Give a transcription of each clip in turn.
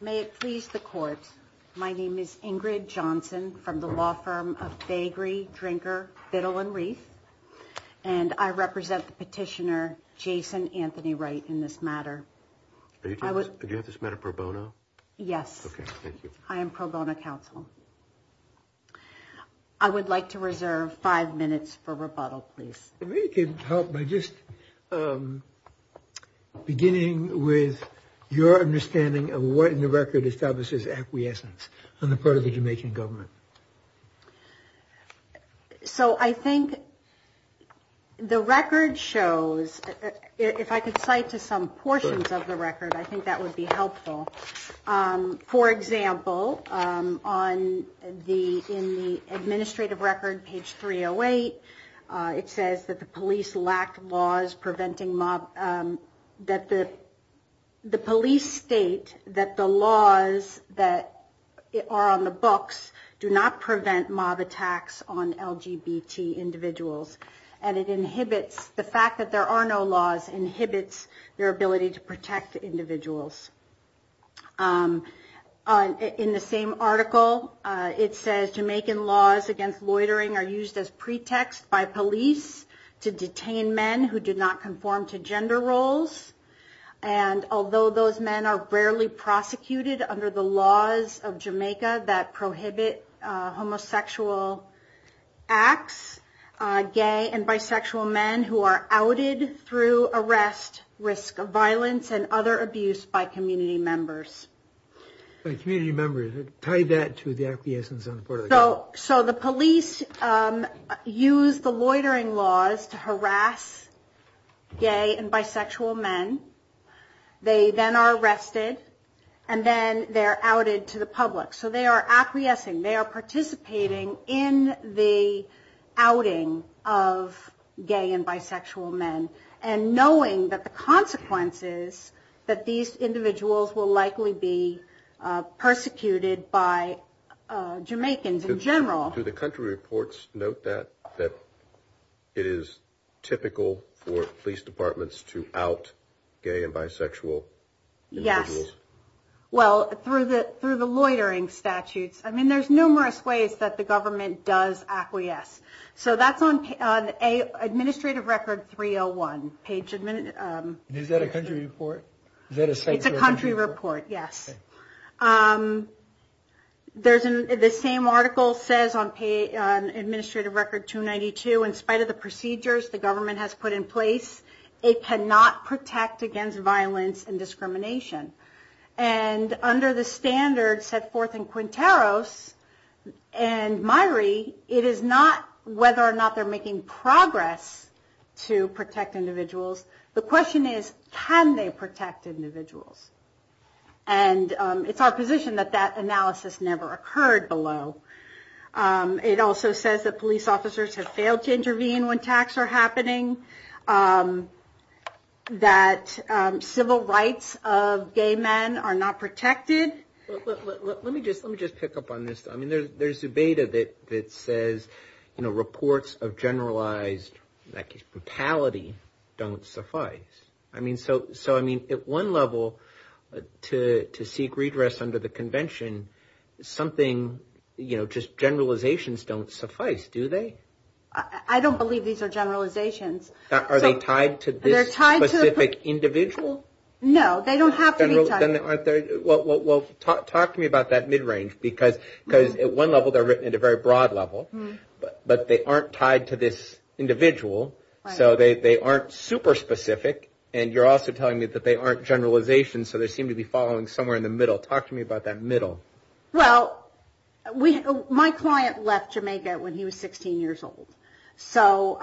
May it please the court, my name is Ingrid Johnson from the law firm of Bagri, Drinker, Fiddle and Reef, and I represent the petitioner Jason Anthony Wright in this matter. Do you have this matter pro bono? Yes, I am pro bono counsel. I would like to reserve five minutes for rebuttal, please. Maybe you could help by just beginning with your understanding of what in the record establishes acquiescence on the part of the Jamaican government. So I think the record shows, if I could cite to some portions of the record, I think that would be helpful. For example, on the in the administrative record, page 308, it says that the police lack laws preventing mob, that the police state that the laws that are on the books do not prevent mob attacks on LGBT individuals. And it inhibits the fact that there are no laws, inhibits their ability to protect individuals. In the same article, it says Jamaican laws against loitering are used as pretext by police to detain men who do not conform to gender roles. And although those men are rarely prosecuted under the laws of Jamaica that prohibit homosexual acts, gay and bisexual men who are outed through arrest, risk of violence and other abuse by community members. By community members, tie that to the acquiescence on the part of the government. So the police use the loitering laws to harass gay and bisexual men. They then are arrested, and then they're outed to the public. So they are acquiescing, they are participating in the outing of gay and bisexual men, and these individuals will likely be persecuted by Jamaicans in general. Do the country reports note that, that it is typical for police departments to out gay and bisexual individuals? Yes. Well, through the loitering statutes. I mean, there's numerous ways that the government does acquiesce. So that's on Administrative Record 301, page... Is that a country report? It's a country report, yes. The same article says on Administrative Record 292, in spite of the procedures the government has put in place, it cannot protect against violence and discrimination. And under the standards set forth in Quinteros and Myrie, it is not whether or not they're making progress to protect individuals. The question is, can they protect individuals? And it's our position that that analysis never occurred below. It also says that police officers have failed to intervene when attacks are happening. That civil rights of gay men are not protected. Let me just pick up on this. I mean, there's a beta that says, you know, reports of generalized brutality don't suffice. I mean, so I mean, at one level, to seek redress under the convention, something, you know, just generalizations don't suffice, do they? I don't believe these are generalizations. Are they tied to this specific individual? No, they don't have to be tied. Well, talk to me about that mid-range, because at one level, they're written at a very broad level, but they aren't tied to this individual. So they aren't super specific. And you're also telling me that they aren't generalizations. So they seem to be following somewhere in the middle. Talk to me about that middle. Well, my client left Jamaica when he was 16 years old. So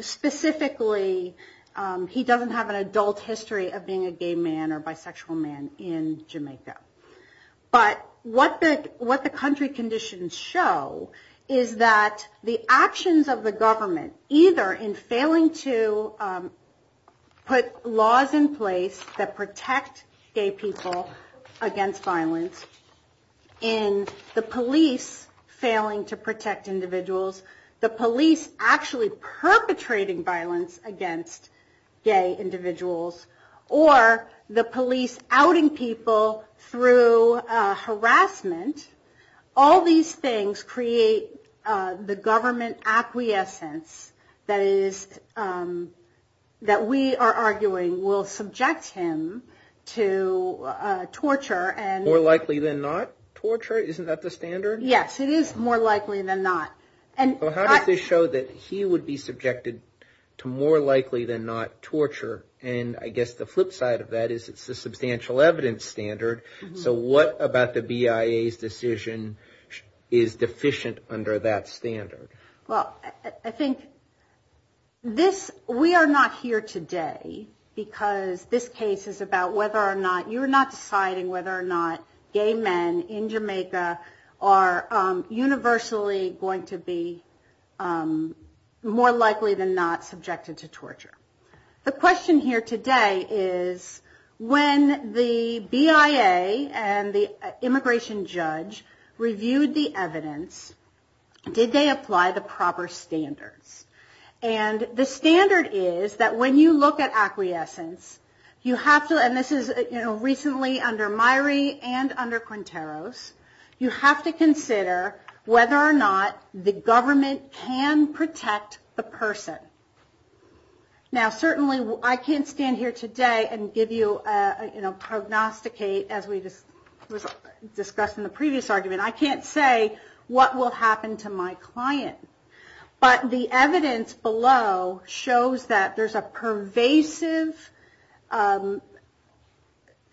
specifically, he doesn't have an adult history of being a gay man or a bisexual man in Jamaica. But what the country conditions show is that the actions of the government, either in failing to put laws in place that protect gay people against violence, in the police failing to protect individuals, the police actually outing people through harassment, all these things create the government acquiescence that we are arguing will subject him to torture. More likely than not torture? Isn't that the standard? Yes, it is more likely than not. How does this show that he would be subjected to more likely than not torture? And I guess the flip side of that is it's a substantial evidence standard. So what about the BIA's decision is deficient under that standard? Well, I think this, we are not here today, because this case is about whether or not, you're not deciding whether or not gay men in Jamaica are going to be more likely than not subjected to torture. The question here today is, when the BIA and the immigration judge reviewed the evidence, did they apply the proper standards? And the standard is that when you look at acquiescence, you have to, and this is the government, can protect the person. Now certainly I can't stand here today and give you, prognosticate, as we discussed in the previous argument, I can't say what will happen to my client. But the evidence below shows that there's a pervasive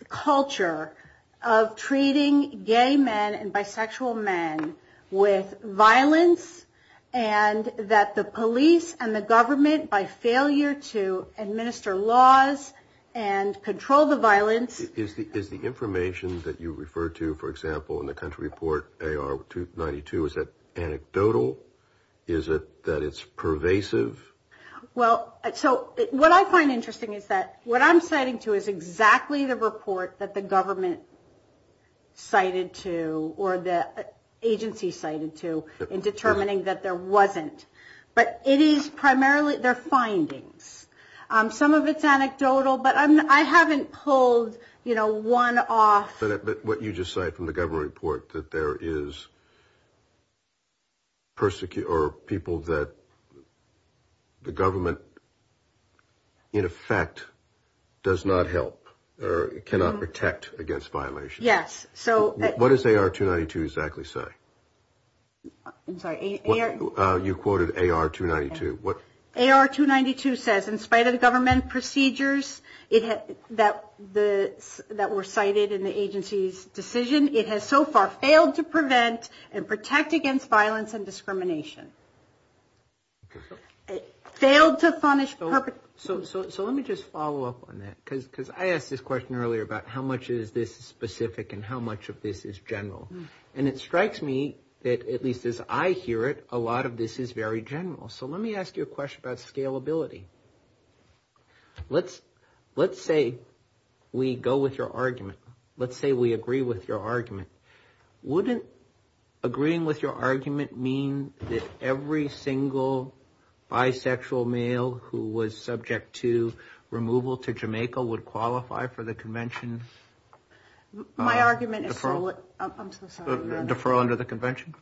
culture of treating gay men and women with violence, and that the police and the government, by failure to administer laws and control the violence. Is the information that you refer to, for example, in the country report AR-292, is that anecdotal? Is it that it's pervasive? Well, so what I find interesting is that what I'm citing to is exactly the report that the government cited to, or the agency cited to, in determining that there wasn't. But it is primarily their findings. Some of it's anecdotal, but I haven't pulled, you know, one off. But what you just cite from the government report, that there is people that the government, in effect, does not help, or cannot protect against violations. Yes. What does AR-292 exactly say? I'm sorry, AR- You quoted AR-292. AR-292 says, in spite of the government procedures that were cited in the agency's decision, it has so far failed to prevent and protect against violence and discrimination. Failed to punish perpetrators. So let me just follow up on that. Because I asked this question earlier about how much of this is specific and how much of this is general. And it strikes me that, at least as I hear it, a lot of this is very general. So let me ask you a question about scalability. Let's say we go with your argument. Let's say we agree with your argument. Wouldn't agreeing with your argument mean that every single bisexual male who was subject to removal to Jamaica would qualify for the convention? My argument is solely- Defer under the convention.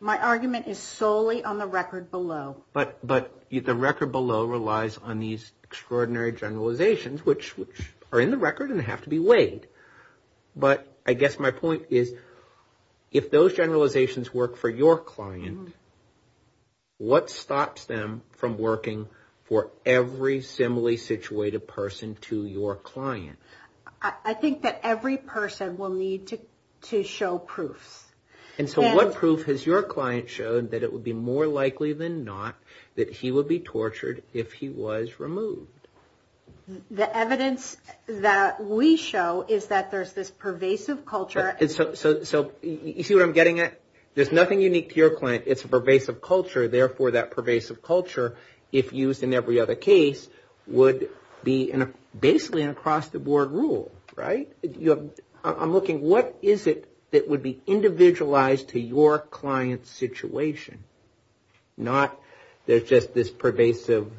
My argument is solely on the record below. But the record below relies on these extraordinary generalizations, which are in the record and have to be weighed. But I guess my point is, if those to your client. I think that every person will need to show proofs. And so what proof has your client showed that it would be more likely than not that he would be tortured if he was removed? The evidence that we show is that there's this pervasive culture- So you see what I'm getting at? There's nothing unique to your client. It's a pervasive culture. Therefore, that pervasive culture, if used in every other case, would be basically an across-the-board rule, right? I'm looking, what is it that would be individualized to your client's situation? Not there's just this pervasive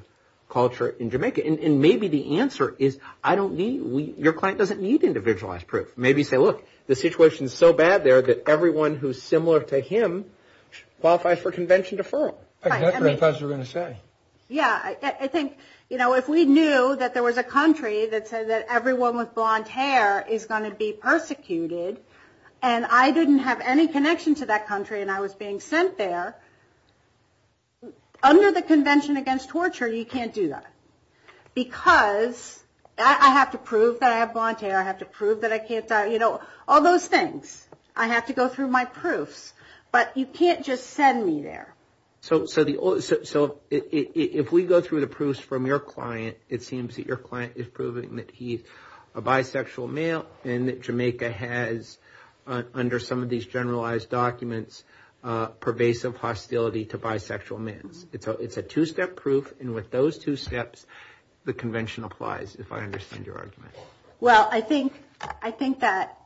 culture in Jamaica. And maybe the answer is, I don't need- your client doesn't need individualized proof. Maybe you say, look, the situation is so bad there that everyone who's similar to him qualifies for convention deferral. That's what I thought you were going to say. Yeah, I think, you know, if we knew that there was a country that said that everyone with blonde hair is going to be persecuted, and I didn't have any connection to that country and I was being sent there, under the Convention Against Torture, you can't do that. Because I have to prove that I have blonde hair. I have to prove that I can't- you know, all those things. I have to go through my proofs. But you can't just send me there. So if we go through the proofs from your client, it seems that your client is proving that he's a bisexual male and that Jamaica has, under some of those documents, pervasive hostility to bisexual men. It's a two-step proof, and with those two steps, the convention applies, if I understand your argument. Well, I think that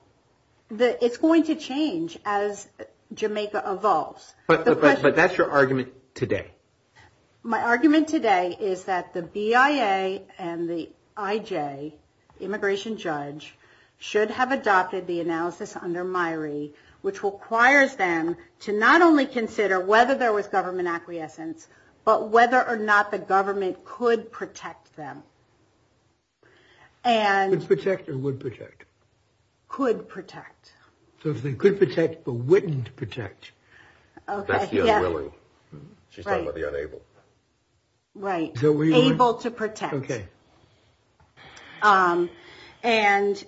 it's going to change as Jamaica evolves. But that's your argument today. My argument today is that the BIA and the IJ, the immigration judge, should have adopted the analysis under MIRI, which requires them to not only consider whether there was government acquiescence, but whether or not the government could protect them. Could protect or would protect? Could protect. So if they could protect but wouldn't protect. That's the unwilling. She's talking about the unable. Right. Able to protect. Okay. And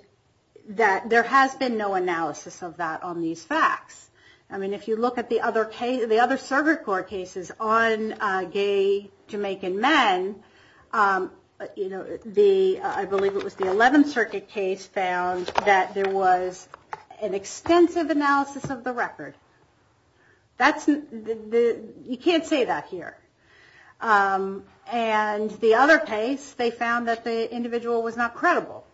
that there has been no analysis of that on these facts. I mean, if you look at the other server court cases on gay Jamaican men, I believe it was the You can't say that here. And the other case, they found that the individual was not credible.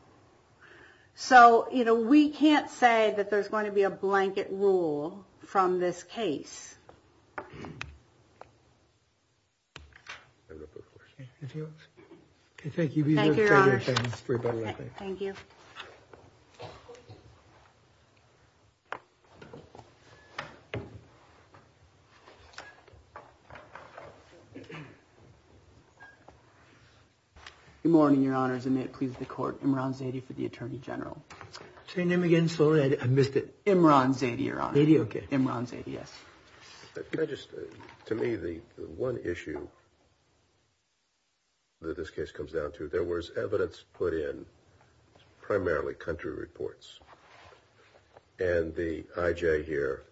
So, you know, we can't say that there's going to be a blanket rule from this case. Thank you. Thank you. Good morning, your honors. And it pleases the court. Imran Zaidi for the attorney general. Say name again. So I missed it. Imran Zaidi. Yes. To me, the one issue that this case comes down to, there was evidence put in primarily country reports. And the IJ here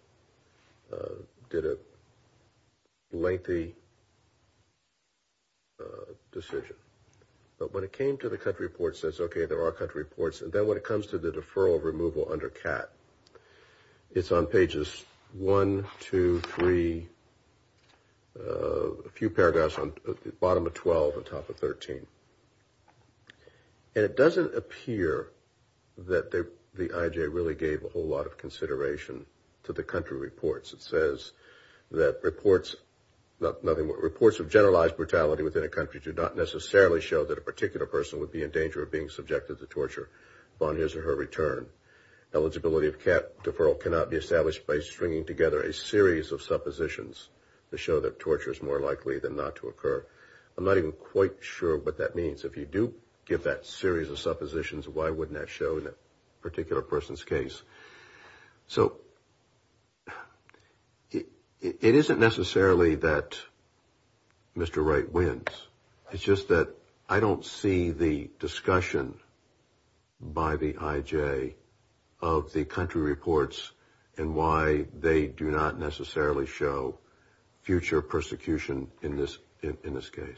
did a lengthy decision. But when it came to the country report says, okay, there are country reports. And then when it comes to the deferral of removal under cat, it's on pages one, two, three. A few paragraphs on the bottom of 12 and top of 13. And it doesn't appear that the IJ really gave a whole lot of consideration to the country reports. It says that reports of generalized brutality within a country do not necessarily show that a particular person would be in danger of being subjected to torture upon his or her return. Eligibility of cat deferral cannot be established by stringing together a series of suppositions to show that torture is more likely than not to occur. I'm not even quite sure what that means. If you do give that series of suppositions, why wouldn't that show in a particular person's case? So it isn't necessarily that Mr. Wright wins. It's just that I don't see the discussion by the IJ of the country reports and why they do not necessarily show future persecution in this case.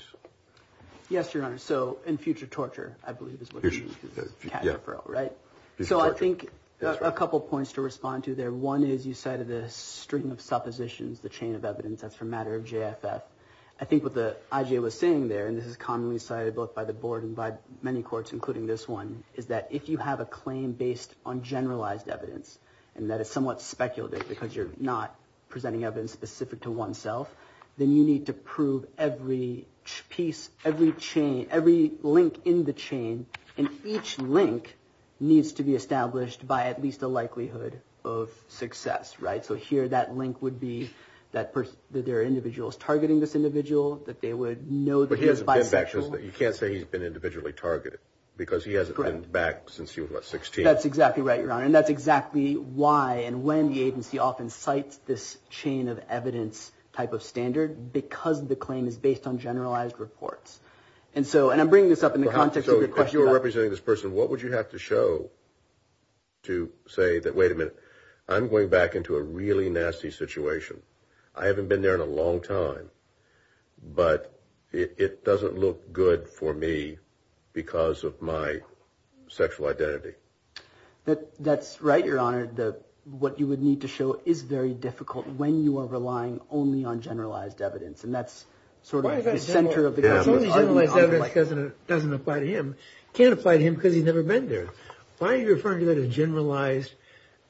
Yes, Your Honor. So in future torture, I believe, is what you mean, cat deferral, right? So I think a couple points to respond to there. One is you cited a string of suppositions, the chain of evidence. That's for a matter of JFF. I think what the IJ was saying there, and this is commonly cited both by the board and by many courts, including this one, is that if you have a claim based on generalized evidence and that it's somewhat speculative because you're not presenting evidence specific to oneself, then you need to prove every piece, every link in the chain, and each link needs to be established by at least a likelihood of success, right? So here that link would be that there are individuals targeting this individual, that they would know that he is bisexual. But he hasn't been back. You can't say he's been individually targeted because he hasn't been back since he was, what, 16? That's exactly right, Your Honor. And that's exactly why and when the agency often cites this chain of evidence type of standard because the claim is based on generalized reports. And so, and I'm bringing this up in the context of your question. So if you were representing this person, what would you have to show to say that, wait a minute, I'm going back into a really nasty situation. I haven't been there in a long time, but it doesn't look good for me because of my sexual identity. That's right, Your Honor. What you would need to show is very difficult when you are relying only on generalized evidence, and that's sort of the center of the argument. As long as generalized evidence doesn't apply to him. It can't apply to him because he's never been there. Why are you referring to that as generalized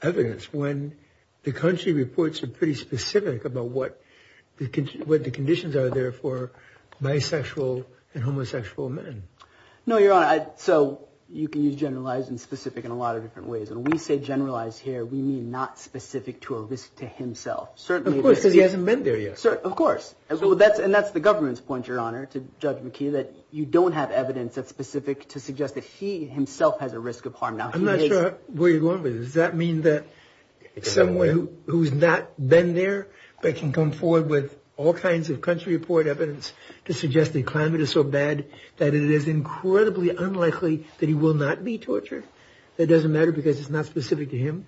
evidence when the country reports are pretty specific about what the conditions are there for bisexual and homosexual men? No, Your Honor. So you can use generalized and specific in a lot of different ways. When we say generalized here, we mean not specific to a risk to himself. Of course, because he hasn't been there yet. Of course. And that's the government's point, Your Honor, to Judge McKee, that you don't have evidence that's specific to suggest that he himself has a risk of harm. I'm not sure where you're going with this. Does that mean that someone who's not been there but can come forward with all kinds of country report evidence to suggest the climate is so bad that it is incredibly unlikely that he will not be tortured? That it doesn't matter because it's not specific to him?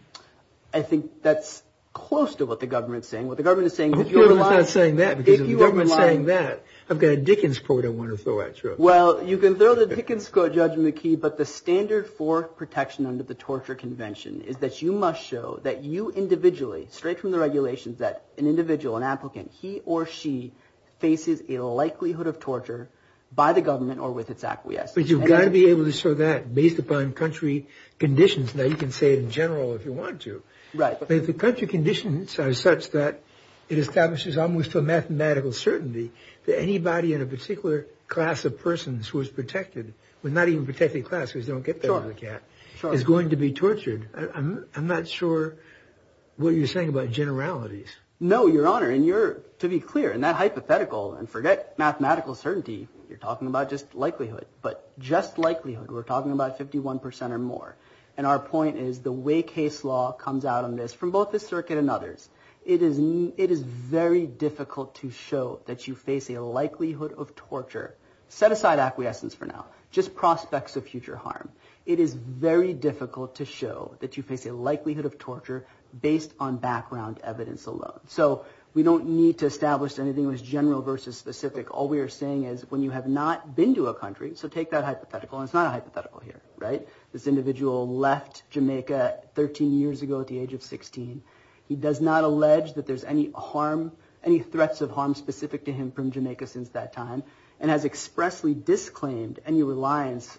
I think that's close to what the government is saying. The government is not saying that because if the government is saying that, I've got a Dickens quote I want to throw at you. Well, you can throw the Dickens quote, Judge McKee, but the standard for protection under the Torture Convention is that you must show that you individually, straight from the regulations, that an individual, an applicant, he or she, faces a likelihood of torture by the government or with its acquiescence. But you've got to be able to show that based upon country conditions. Now, you can say it in general if you want to. Right. But if the country conditions are such that it establishes almost a mathematical certainty that anybody in a particular class of persons who is protected, well, not even protected class, because you don't get that with a cat, is going to be tortured, I'm not sure what you're saying about generalities. No, Your Honor. And you're, to be clear, in that hypothetical, and forget mathematical certainty, you're talking about just likelihood. But just likelihood, we're talking about 51 percent or more. And our point is the way case law comes out on this, from both the circuit and others, it is very difficult to show that you face a likelihood of torture. Set aside acquiescence for now. Just prospects of future harm. It is very difficult to show that you face a likelihood of torture based on background evidence alone. So we don't need to establish anything that was general versus specific. All we are saying is when you have not been to a country, so take that hypothetical, and it's not a hypothetical here, right. This individual left Jamaica 13 years ago at the age of 16. He does not allege that there's any harm, any threats of harm specific to him from Jamaica since that time, and has expressly disclaimed any reliance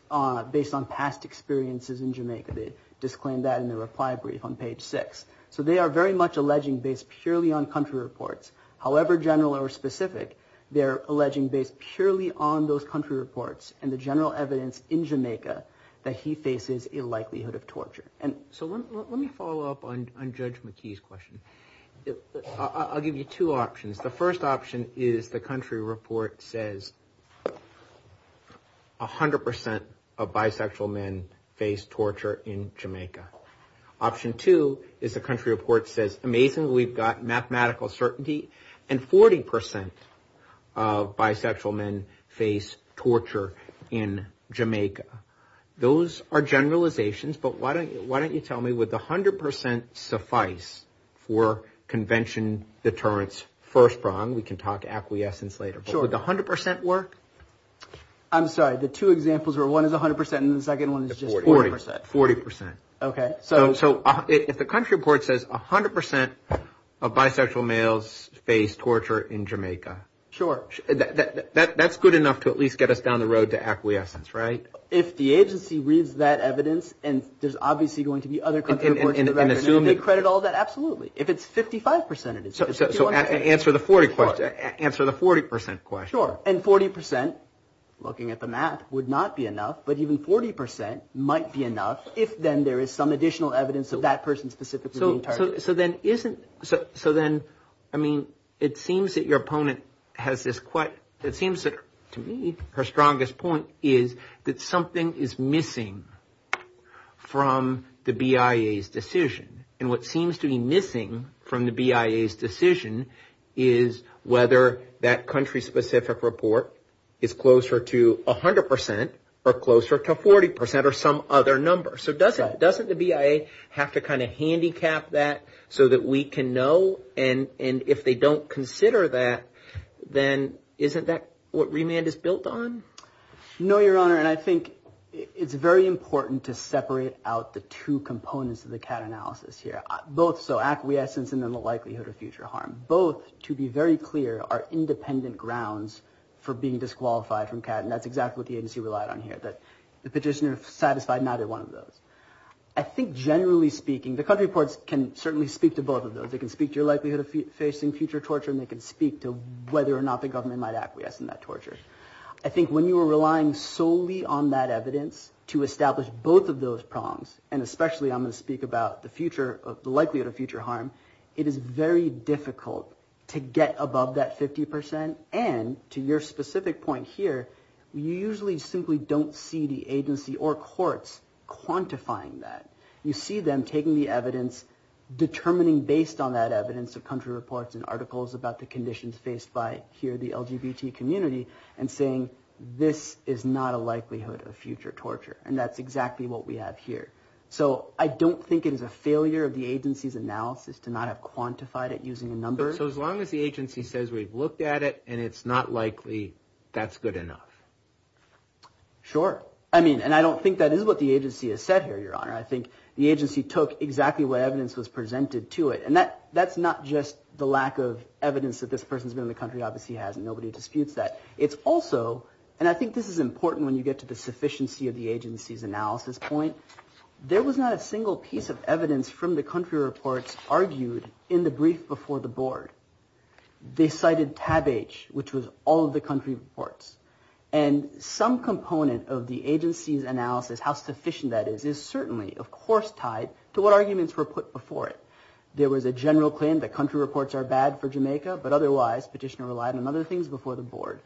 based on past experiences in Jamaica. They disclaimed that in their reply brief on page six. So they are very much alleging based purely on country reports. However general or specific, they're alleging based purely on those country reports and the general evidence in Jamaica that he faces a likelihood of torture. So let me follow up on Judge McKee's question. I'll give you two options. The first option is the country report says 100% of bisexual men face torture in Jamaica. Option two is the country report says amazingly we've got mathematical certainty and 40% of bisexual men face torture in Jamaica. Those are generalizations, but why don't you tell me would 100% suffice for convention deterrence first prong? We can talk acquiescence later, but would 100% work? I'm sorry. The two examples were one is 100% and the second one is just 40%. 40%. Okay. So if the country report says 100% of bisexual males face torture in Jamaica. Sure. That's good enough to at least get us down the road to acquiescence, right? If the agency reads that evidence and there's obviously going to be other country reports and they credit all that, absolutely. If it's 55% it is. So answer the 40% question. Sure. And 40%, looking at the math, would not be enough, but even 40% might be enough if then there is some additional evidence of that person specifically being targeted. So then isn't, so then, I mean, it seems that your opponent has this quite, it seems that to me her strongest point is that something is missing from the BIA's decision. And what seems to be missing from the BIA's decision is whether that country specific report is closer to 100% or closer to 40% or some other number. So doesn't the BIA have to kind of handicap that so that we can know? And if they don't consider that, then isn't that what remand is built on? No, Your Honor, and I think it's very important to separate out the two components of the CAT analysis here, both so acquiescence and then the likelihood of future harm. Both, to be very clear, are independent grounds for being disqualified from CAT, and that's exactly what the agency relied on here, that the petitioner satisfied neither one of those. I think generally speaking, the country reports can certainly speak to both of those. They can speak to your likelihood of facing future torture, and they can speak to whether or not the government might acquiesce in that torture. I think when you are relying solely on that evidence to establish both of those prongs, and especially I'm going to speak about the future, the likelihood of future harm, it is very difficult to get above that 50%, and to your specific point here, you usually simply don't see the agency or courts quantifying that. You see them taking the evidence, determining based on that evidence of country reports and articles about the conditions faced by here the LGBT community, and saying this is not a likelihood of future torture, and that's exactly what we have here. So I don't think it is a failure of the agency's analysis to not have quantified it using a number. So as long as the agency says we've looked at it, and it's not likely, that's good enough? Sure. I mean, and I don't think that is what the agency has said here, Your Honor. I think the agency took exactly what evidence was presented to it, and that's not just the lack of evidence that this person has been in the country, obviously he hasn't, nobody disputes that. It's also, and I think this is important when you get to the sufficiency of the agency's analysis point, there was not a single piece of evidence from the country reports argued in the brief before the board. They cited tab H, which was all of the country reports. And some component of the agency's analysis, how sufficient that is, is certainly, of course, tied to what arguments were put before it. There was a general claim that country reports are bad for Jamaica, but otherwise Petitioner relied on other things before the board.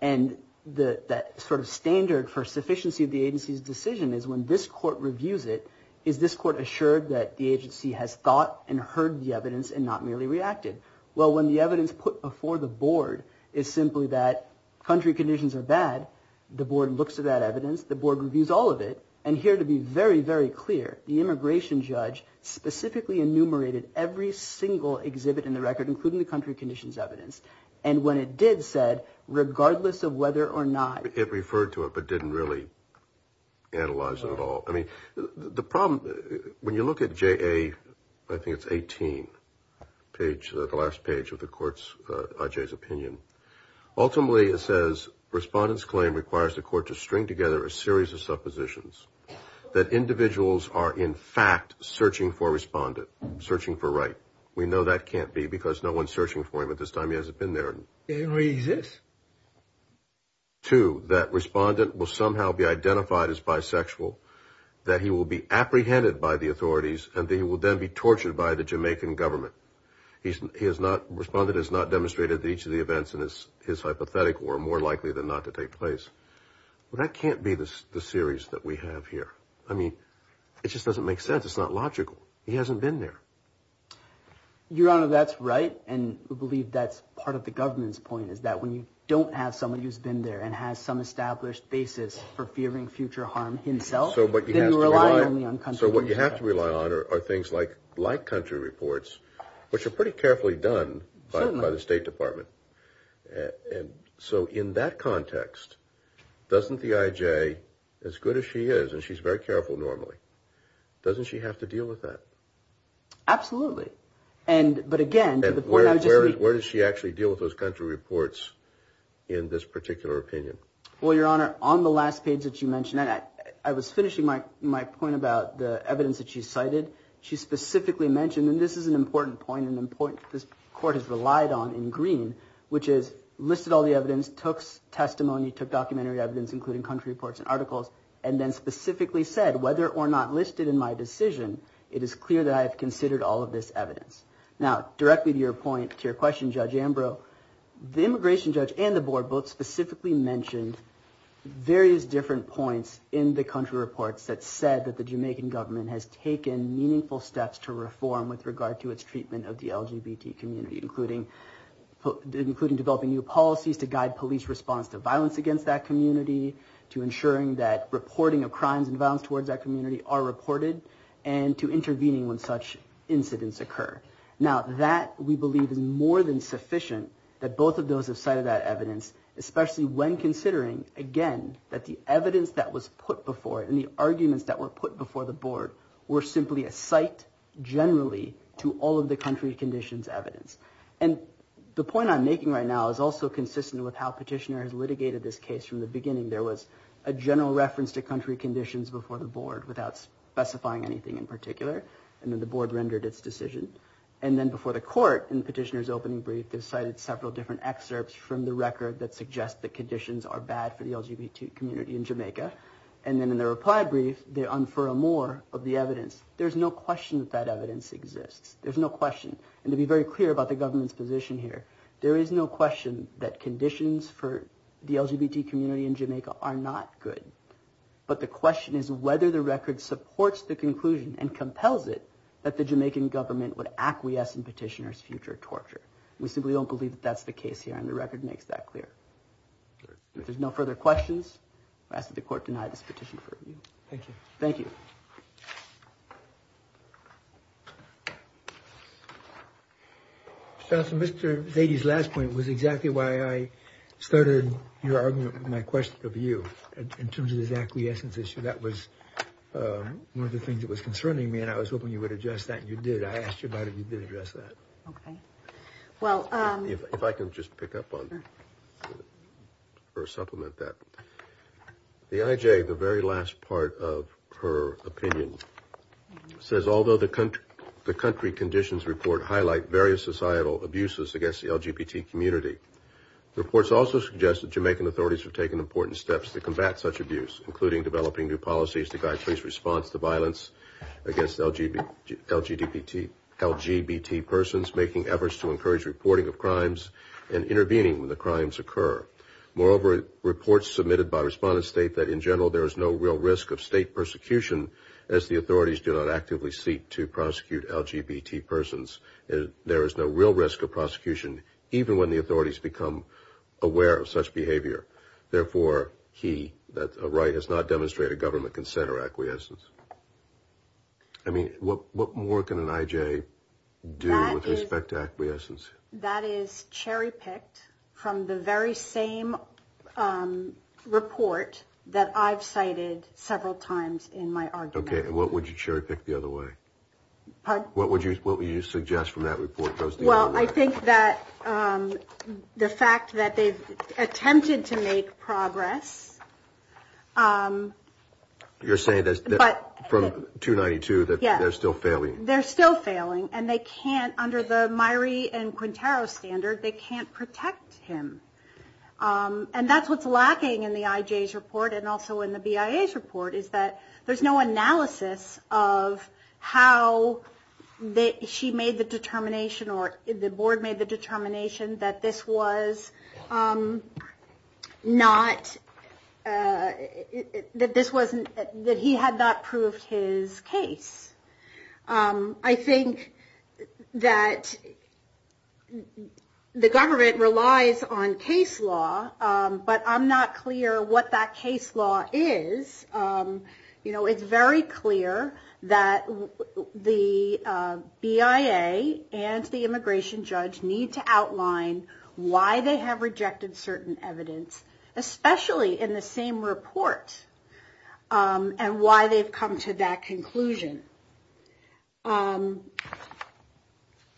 And that sort of standard for sufficiency of the agency's decision is when this court reviews it, is this court assured that the agency has thought and heard the evidence and not merely reacted? Well, when the evidence put before the board is simply that country conditions are bad, the board looks at that evidence, the board reviews all of it, and here to be very, very clear, the immigration judge specifically enumerated every single exhibit in the record, including the country conditions evidence. And when it did said, regardless of whether or not. It referred to it, but didn't really analyze it at all. I mean, the problem, when you look at J.A., I think it's 18, page, the last page of the court's, I.J.'s opinion. Ultimately, it says respondents claim requires the court to string together a series of suppositions that individuals are in fact searching for respondent, searching for right. We know that can't be because no one's searching for him at this time. He hasn't been there. He doesn't really exist. Two, that respondent will somehow be identified as bisexual, that he will be apprehended by the authorities, and that he will then be tortured by the Jamaican government. He has not, respondent has not demonstrated that each of the events in his hypothetical are more likely than not to take place. That can't be the series that we have here. I mean, it just doesn't make sense. It's not logical. He hasn't been there. Your Honor, that's right, and we believe that's part of the government's point, is that when you don't have someone who's been there and has some established basis for fearing future harm himself, then you rely only on country reports. So what you have to rely on are things like black country reports, which are pretty carefully done by the State Department. And so in that context, doesn't the I.J., as good as she is, and she's very careful normally, doesn't she have to deal with that? Absolutely. But again, to the point I was just making. Where does she actually deal with those country reports in this particular opinion? Well, Your Honor, on the last page that you mentioned, I was finishing my point about the evidence that she cited. She specifically mentioned, and this is an important point, an important point that this Court has relied on in green, which is listed all the evidence, took testimony, took documentary evidence, including country reports and articles, and then specifically said, whether or not listed in my decision, it is clear that I have considered all of this evidence. Now, directly to your point, to your question, Judge Ambrose, the immigration judge and the board both specifically mentioned various different points in the country reports that said that the Jamaican government has taken meaningful steps to reform with regard to its treatment of the LGBT community, including developing new policies to guide police response to violence against that community, to ensuring that reporting of crimes and violence towards that community are reported, and to intervening when such incidents occur. Now, that, we believe, is more than sufficient that both of those have cited that evidence, especially when considering, again, that the evidence that was put before it and the arguments that were put before the board were simply a site, generally, to all of the country conditions evidence. And the point I'm making right now is also consistent with how Petitioner has litigated this case from the beginning. There was a general reference to country conditions before the board without specifying anything in particular, and then the board rendered its decision. And then before the court, in Petitioner's opening brief, they cited several different excerpts from the record that suggest that conditions are bad for the LGBT community in Jamaica. And then in the reply brief, they unfurl more of the evidence. There's no question that that evidence exists. There's no question. And to be very clear about the government's position here, there is no question that conditions for the LGBT community in Jamaica are not good. But the question is whether the record supports the conclusion and compels it that the Jamaican government would acquiesce in Petitioner's future torture. We simply don't believe that that's the case here, and the record makes that clear. If there's no further questions, I ask that the court deny this petition for review. Thank you. Thank you. Counsel, Mr. Zady's last point was exactly why I started your argument with my question of you in terms of this acquiescence issue. That was one of the things that was concerning me, and I was hoping you would address that, and you did. I asked you about it, and you did address that. Okay. Well, if I could just pick up on or supplement that. The IJ, the very last part of her opinion, says although the country conditions report highlight various societal abuses against the LGBT community, the reports also suggest that Jamaican authorities have taken important steps to combat such abuse, including developing new policies to guide police response to violence against LGBT persons, making efforts to encourage reporting of crimes and intervening when the crimes occur. Moreover, reports submitted by respondents state that in general there is no real risk of state persecution as the authorities do not actively seek to prosecute LGBT persons. There is no real risk of prosecution even when the authorities become aware of such behavior. Therefore, he, that's a right, has not demonstrated government consent or acquiescence. I mean, what more can an IJ do with respect to acquiescence? That is cherry-picked from the very same report that I've cited several times in my argument. Okay, and what would you cherry-pick the other way? Pardon? What would you suggest from that report? Well, I think that the fact that they've attempted to make progress. You're saying from 292 that they're still failing? They're still failing, and they can't, under the Myrie and Quintero standard, they can't protect him. And that's what's lacking in the IJ's report and also in the BIA's report, is that there's no analysis of how she made the determination or the board made the determination that this was not, that he had not proved his case. I think that the government relies on case law, but I'm not clear what that case law is. It's very clear that the BIA and the immigration judge need to outline why they have rejected certain evidence, especially in the same report, and why they've come to that conclusion.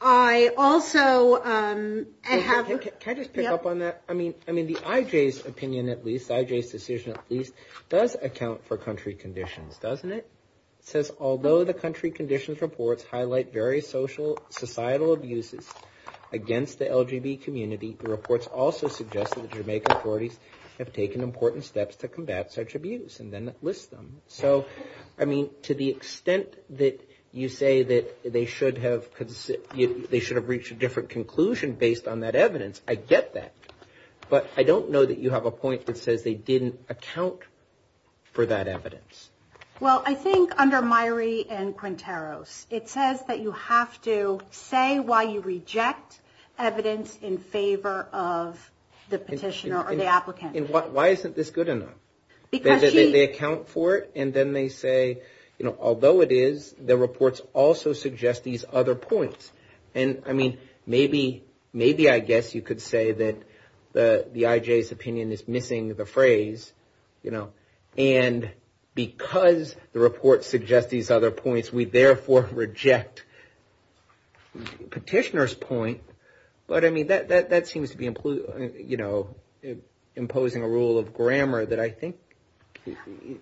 I also have... Can I just pick up on that? I mean, the IJ's opinion, at least, the IJ's decision, at least, does account for country conditions, doesn't it? It says, although the country conditions reports highlight various societal abuses against the LGBT community, the reports also suggest that the Jamaican authorities have taken important steps to combat such abuse, and then list them. So, I mean, to the extent that you say that they should have reached a different conclusion based on that evidence, I get that, but I don't know that you have a point that says they didn't account for that evidence. Well, I think under Myrie and Quinteros, it says that you have to say why you reject evidence in favor of the petitioner or the applicant. And why isn't this good enough? Because she... They account for it, and then they say, you know, although it is, the reports also suggest these other points. And, I mean, maybe I guess you could say that the IJ's opinion is missing the phrase, you know, and because the reports suggest these other points, we therefore reject petitioner's point. But, I mean, that seems to be, you know, imposing a rule of grammar that I think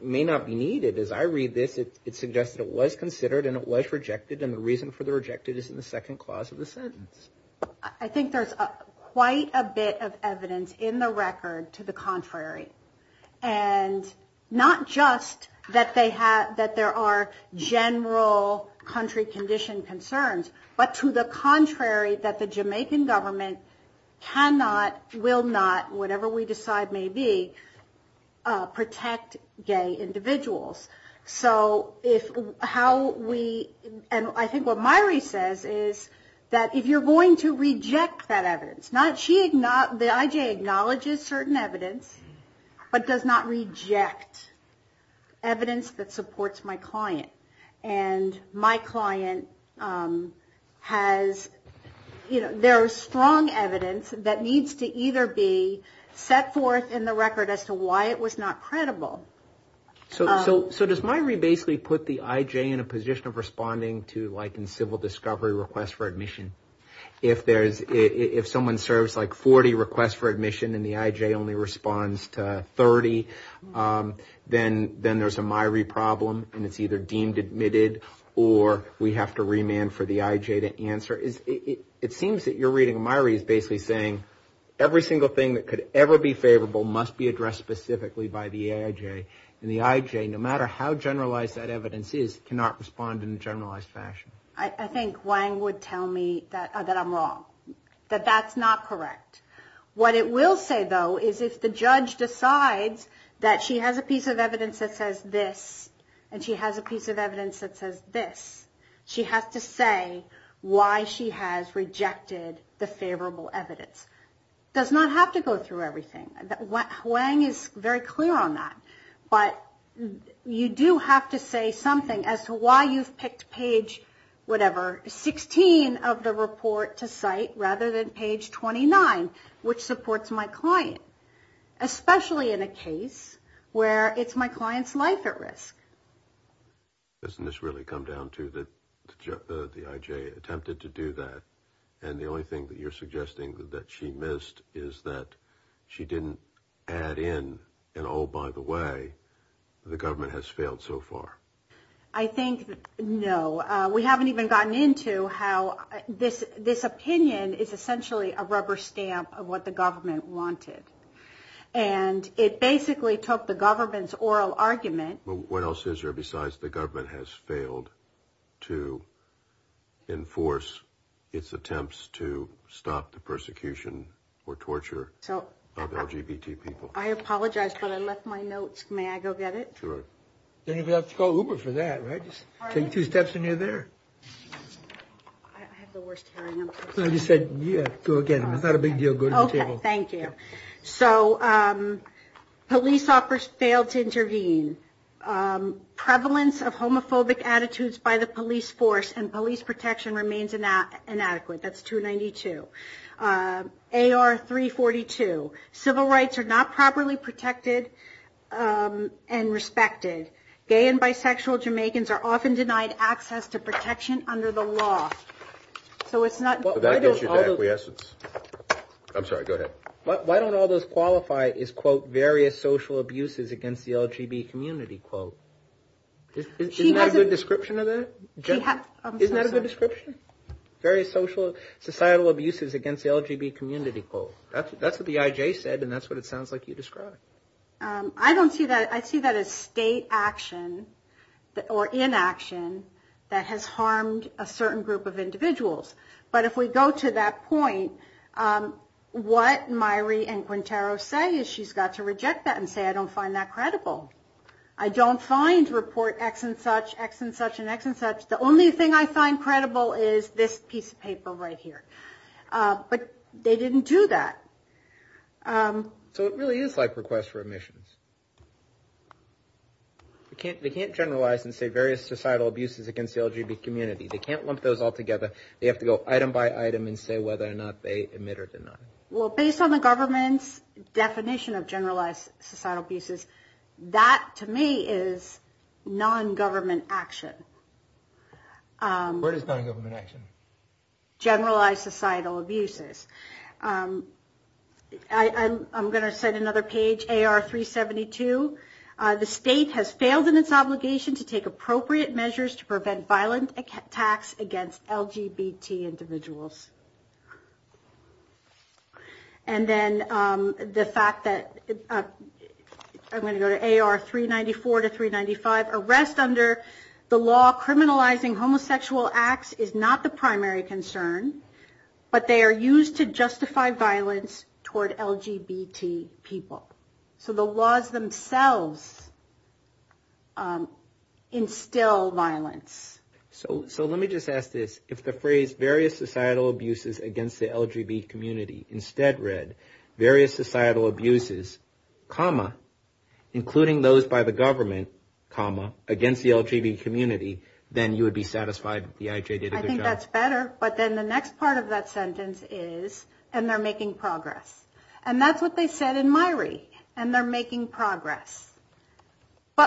may not be needed. But as I read this, it suggests that it was considered and it was rejected, and the reason for the rejected is in the second clause of the sentence. I think there's quite a bit of evidence in the record to the contrary. And not just that there are general country condition concerns, but to the contrary that the Jamaican government cannot, will not, whatever we decide may be, protect gay individuals. So if how we... And I think what Myrie says is that if you're going to reject that evidence, not... She... The IJ acknowledges certain evidence, but does not reject evidence that supports my client. And my client has, you know, there is strong evidence that needs to either be set forth in the record as to why it was not credible. So does Myrie basically put the IJ in a position of responding to like in civil discovery requests for admission? If there's, if someone serves like 40 requests for admission and the IJ only responds to 30, then there's a Myrie problem and it's either deemed admitted or we have to remand for the IJ to answer. It seems that you're reading Myrie as basically saying every single thing that could ever be favorable must be addressed specifically by the IJ. And the IJ, no matter how generalized that evidence is, cannot respond in a generalized fashion. I think Wang would tell me that I'm wrong, that that's not correct. What it will say, though, is if the judge decides that she has a piece of evidence that says this and she has a piece of evidence that says this, she has to say why she has rejected the favorable evidence. Does not have to go through everything. Wang is very clear on that, but you do have to say something as to why you've picked page whatever, 16 of the report to cite rather than page 29. Which supports my client, especially in a case where it's my client's life at risk. Doesn't this really come down to that the IJ attempted to do that and the only thing that you're suggesting that she missed is that she didn't add in, and oh, by the way, the government has failed so far? I think no. We haven't even gotten into how this opinion is essentially a rubber stamp of what the government wanted. And it basically took the government's oral argument. What else is there besides the government has failed to enforce its attempts to stop the persecution or torture of LGBT people? I apologize, but I left my notes. May I go get it? You don't have to call Uber for that, right? Just take two steps and you're there. I just said, yeah, go again. It's not a big deal. Thank you. So police officers failed to intervene. Prevalence of homophobic attitudes by the police force and police protection remains inadequate. That's 292. AR 342, civil rights are not properly protected and respected. Gay and bisexual Jamaicans are often denied access to protection under the law. So it's not... Why don't all those qualify as, quote, various social abuses against the LGBT community, quote? Isn't that a good description of that? That's what the IJ said, and that's what it sounds like you described. I don't see that. I see that as state action or inaction that has harmed a certain group of individuals. But if we go to that point, what Myrie and Quintero say is she's got to reject that and say, I don't find that credible. I don't find report X and such, X and such and X and such. The only thing I find credible is this piece of paper right here. But they didn't do that. So it really is like requests for admissions. They can't generalize and say various societal abuses against the LGBT community. They can't lump those all together. They have to go item by item and say whether or not they admit or deny. Well, based on the government's definition of generalized societal abuses, that to me is non-government action. Where does non-government action? Generalized societal abuses. I'm going to send another page. AR 372. The state has failed in its obligation to take appropriate measures to prevent violent attacks against LGBT individuals. And then the fact that, I'm going to go to AR 394 to 395. Arrest under the law criminalizing homosexual acts is not the primary concern. But they are used to justify violence toward LGBT people. So the laws themselves instill violence. So let me just ask this. If the phrase various societal abuses against the LGBT community instead read various societal abuses, comma, including those by the government, comma, against the LGBT community, then you would be satisfied that the IJ did a good job? I think that's better. But then the next part of that sentence is, and they're making progress. But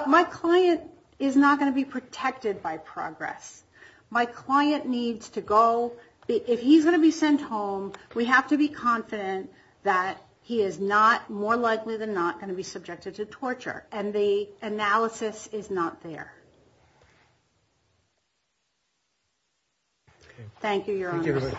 my client is not going to be protected by progress. My client needs to go. If he's going to be sent home, we have to be confident that he is not more likely than not going to be subjected to torture. And the analysis is not there. Thank you. Your Honor.